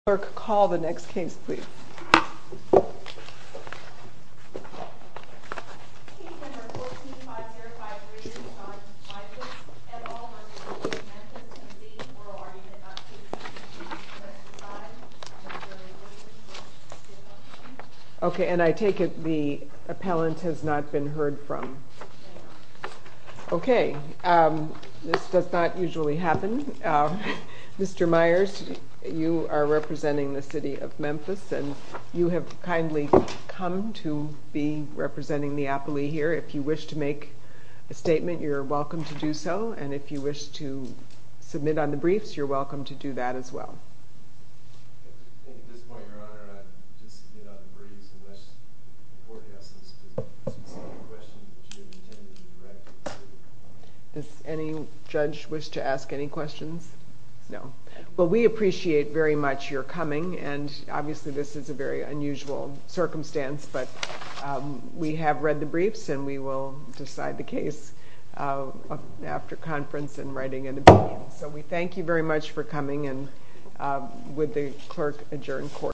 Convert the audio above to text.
Clerk, call the next case, please. Okay, and I take it the appellant has not been heard from. Okay, this does not usually happen. Mr. Myers, you are representing the city of Memphis and you have kindly come to be representing the appellee here. If you wish to make a statement, you're welcome to do so. And if you wish to submit on the briefs, you're welcome to do that as well. At this point, your honor, I'd just get on the briefs unless the forecaster has a specific question that you intend to direct. Does any judge wish to ask any questions? No. Well, we appreciate very much your coming. And obviously, this is a very unusual circumstance, but we have read the briefs and we will decide the case after conference and writing an opinion. So we thank you very much for coming and would the clerk adjourn court?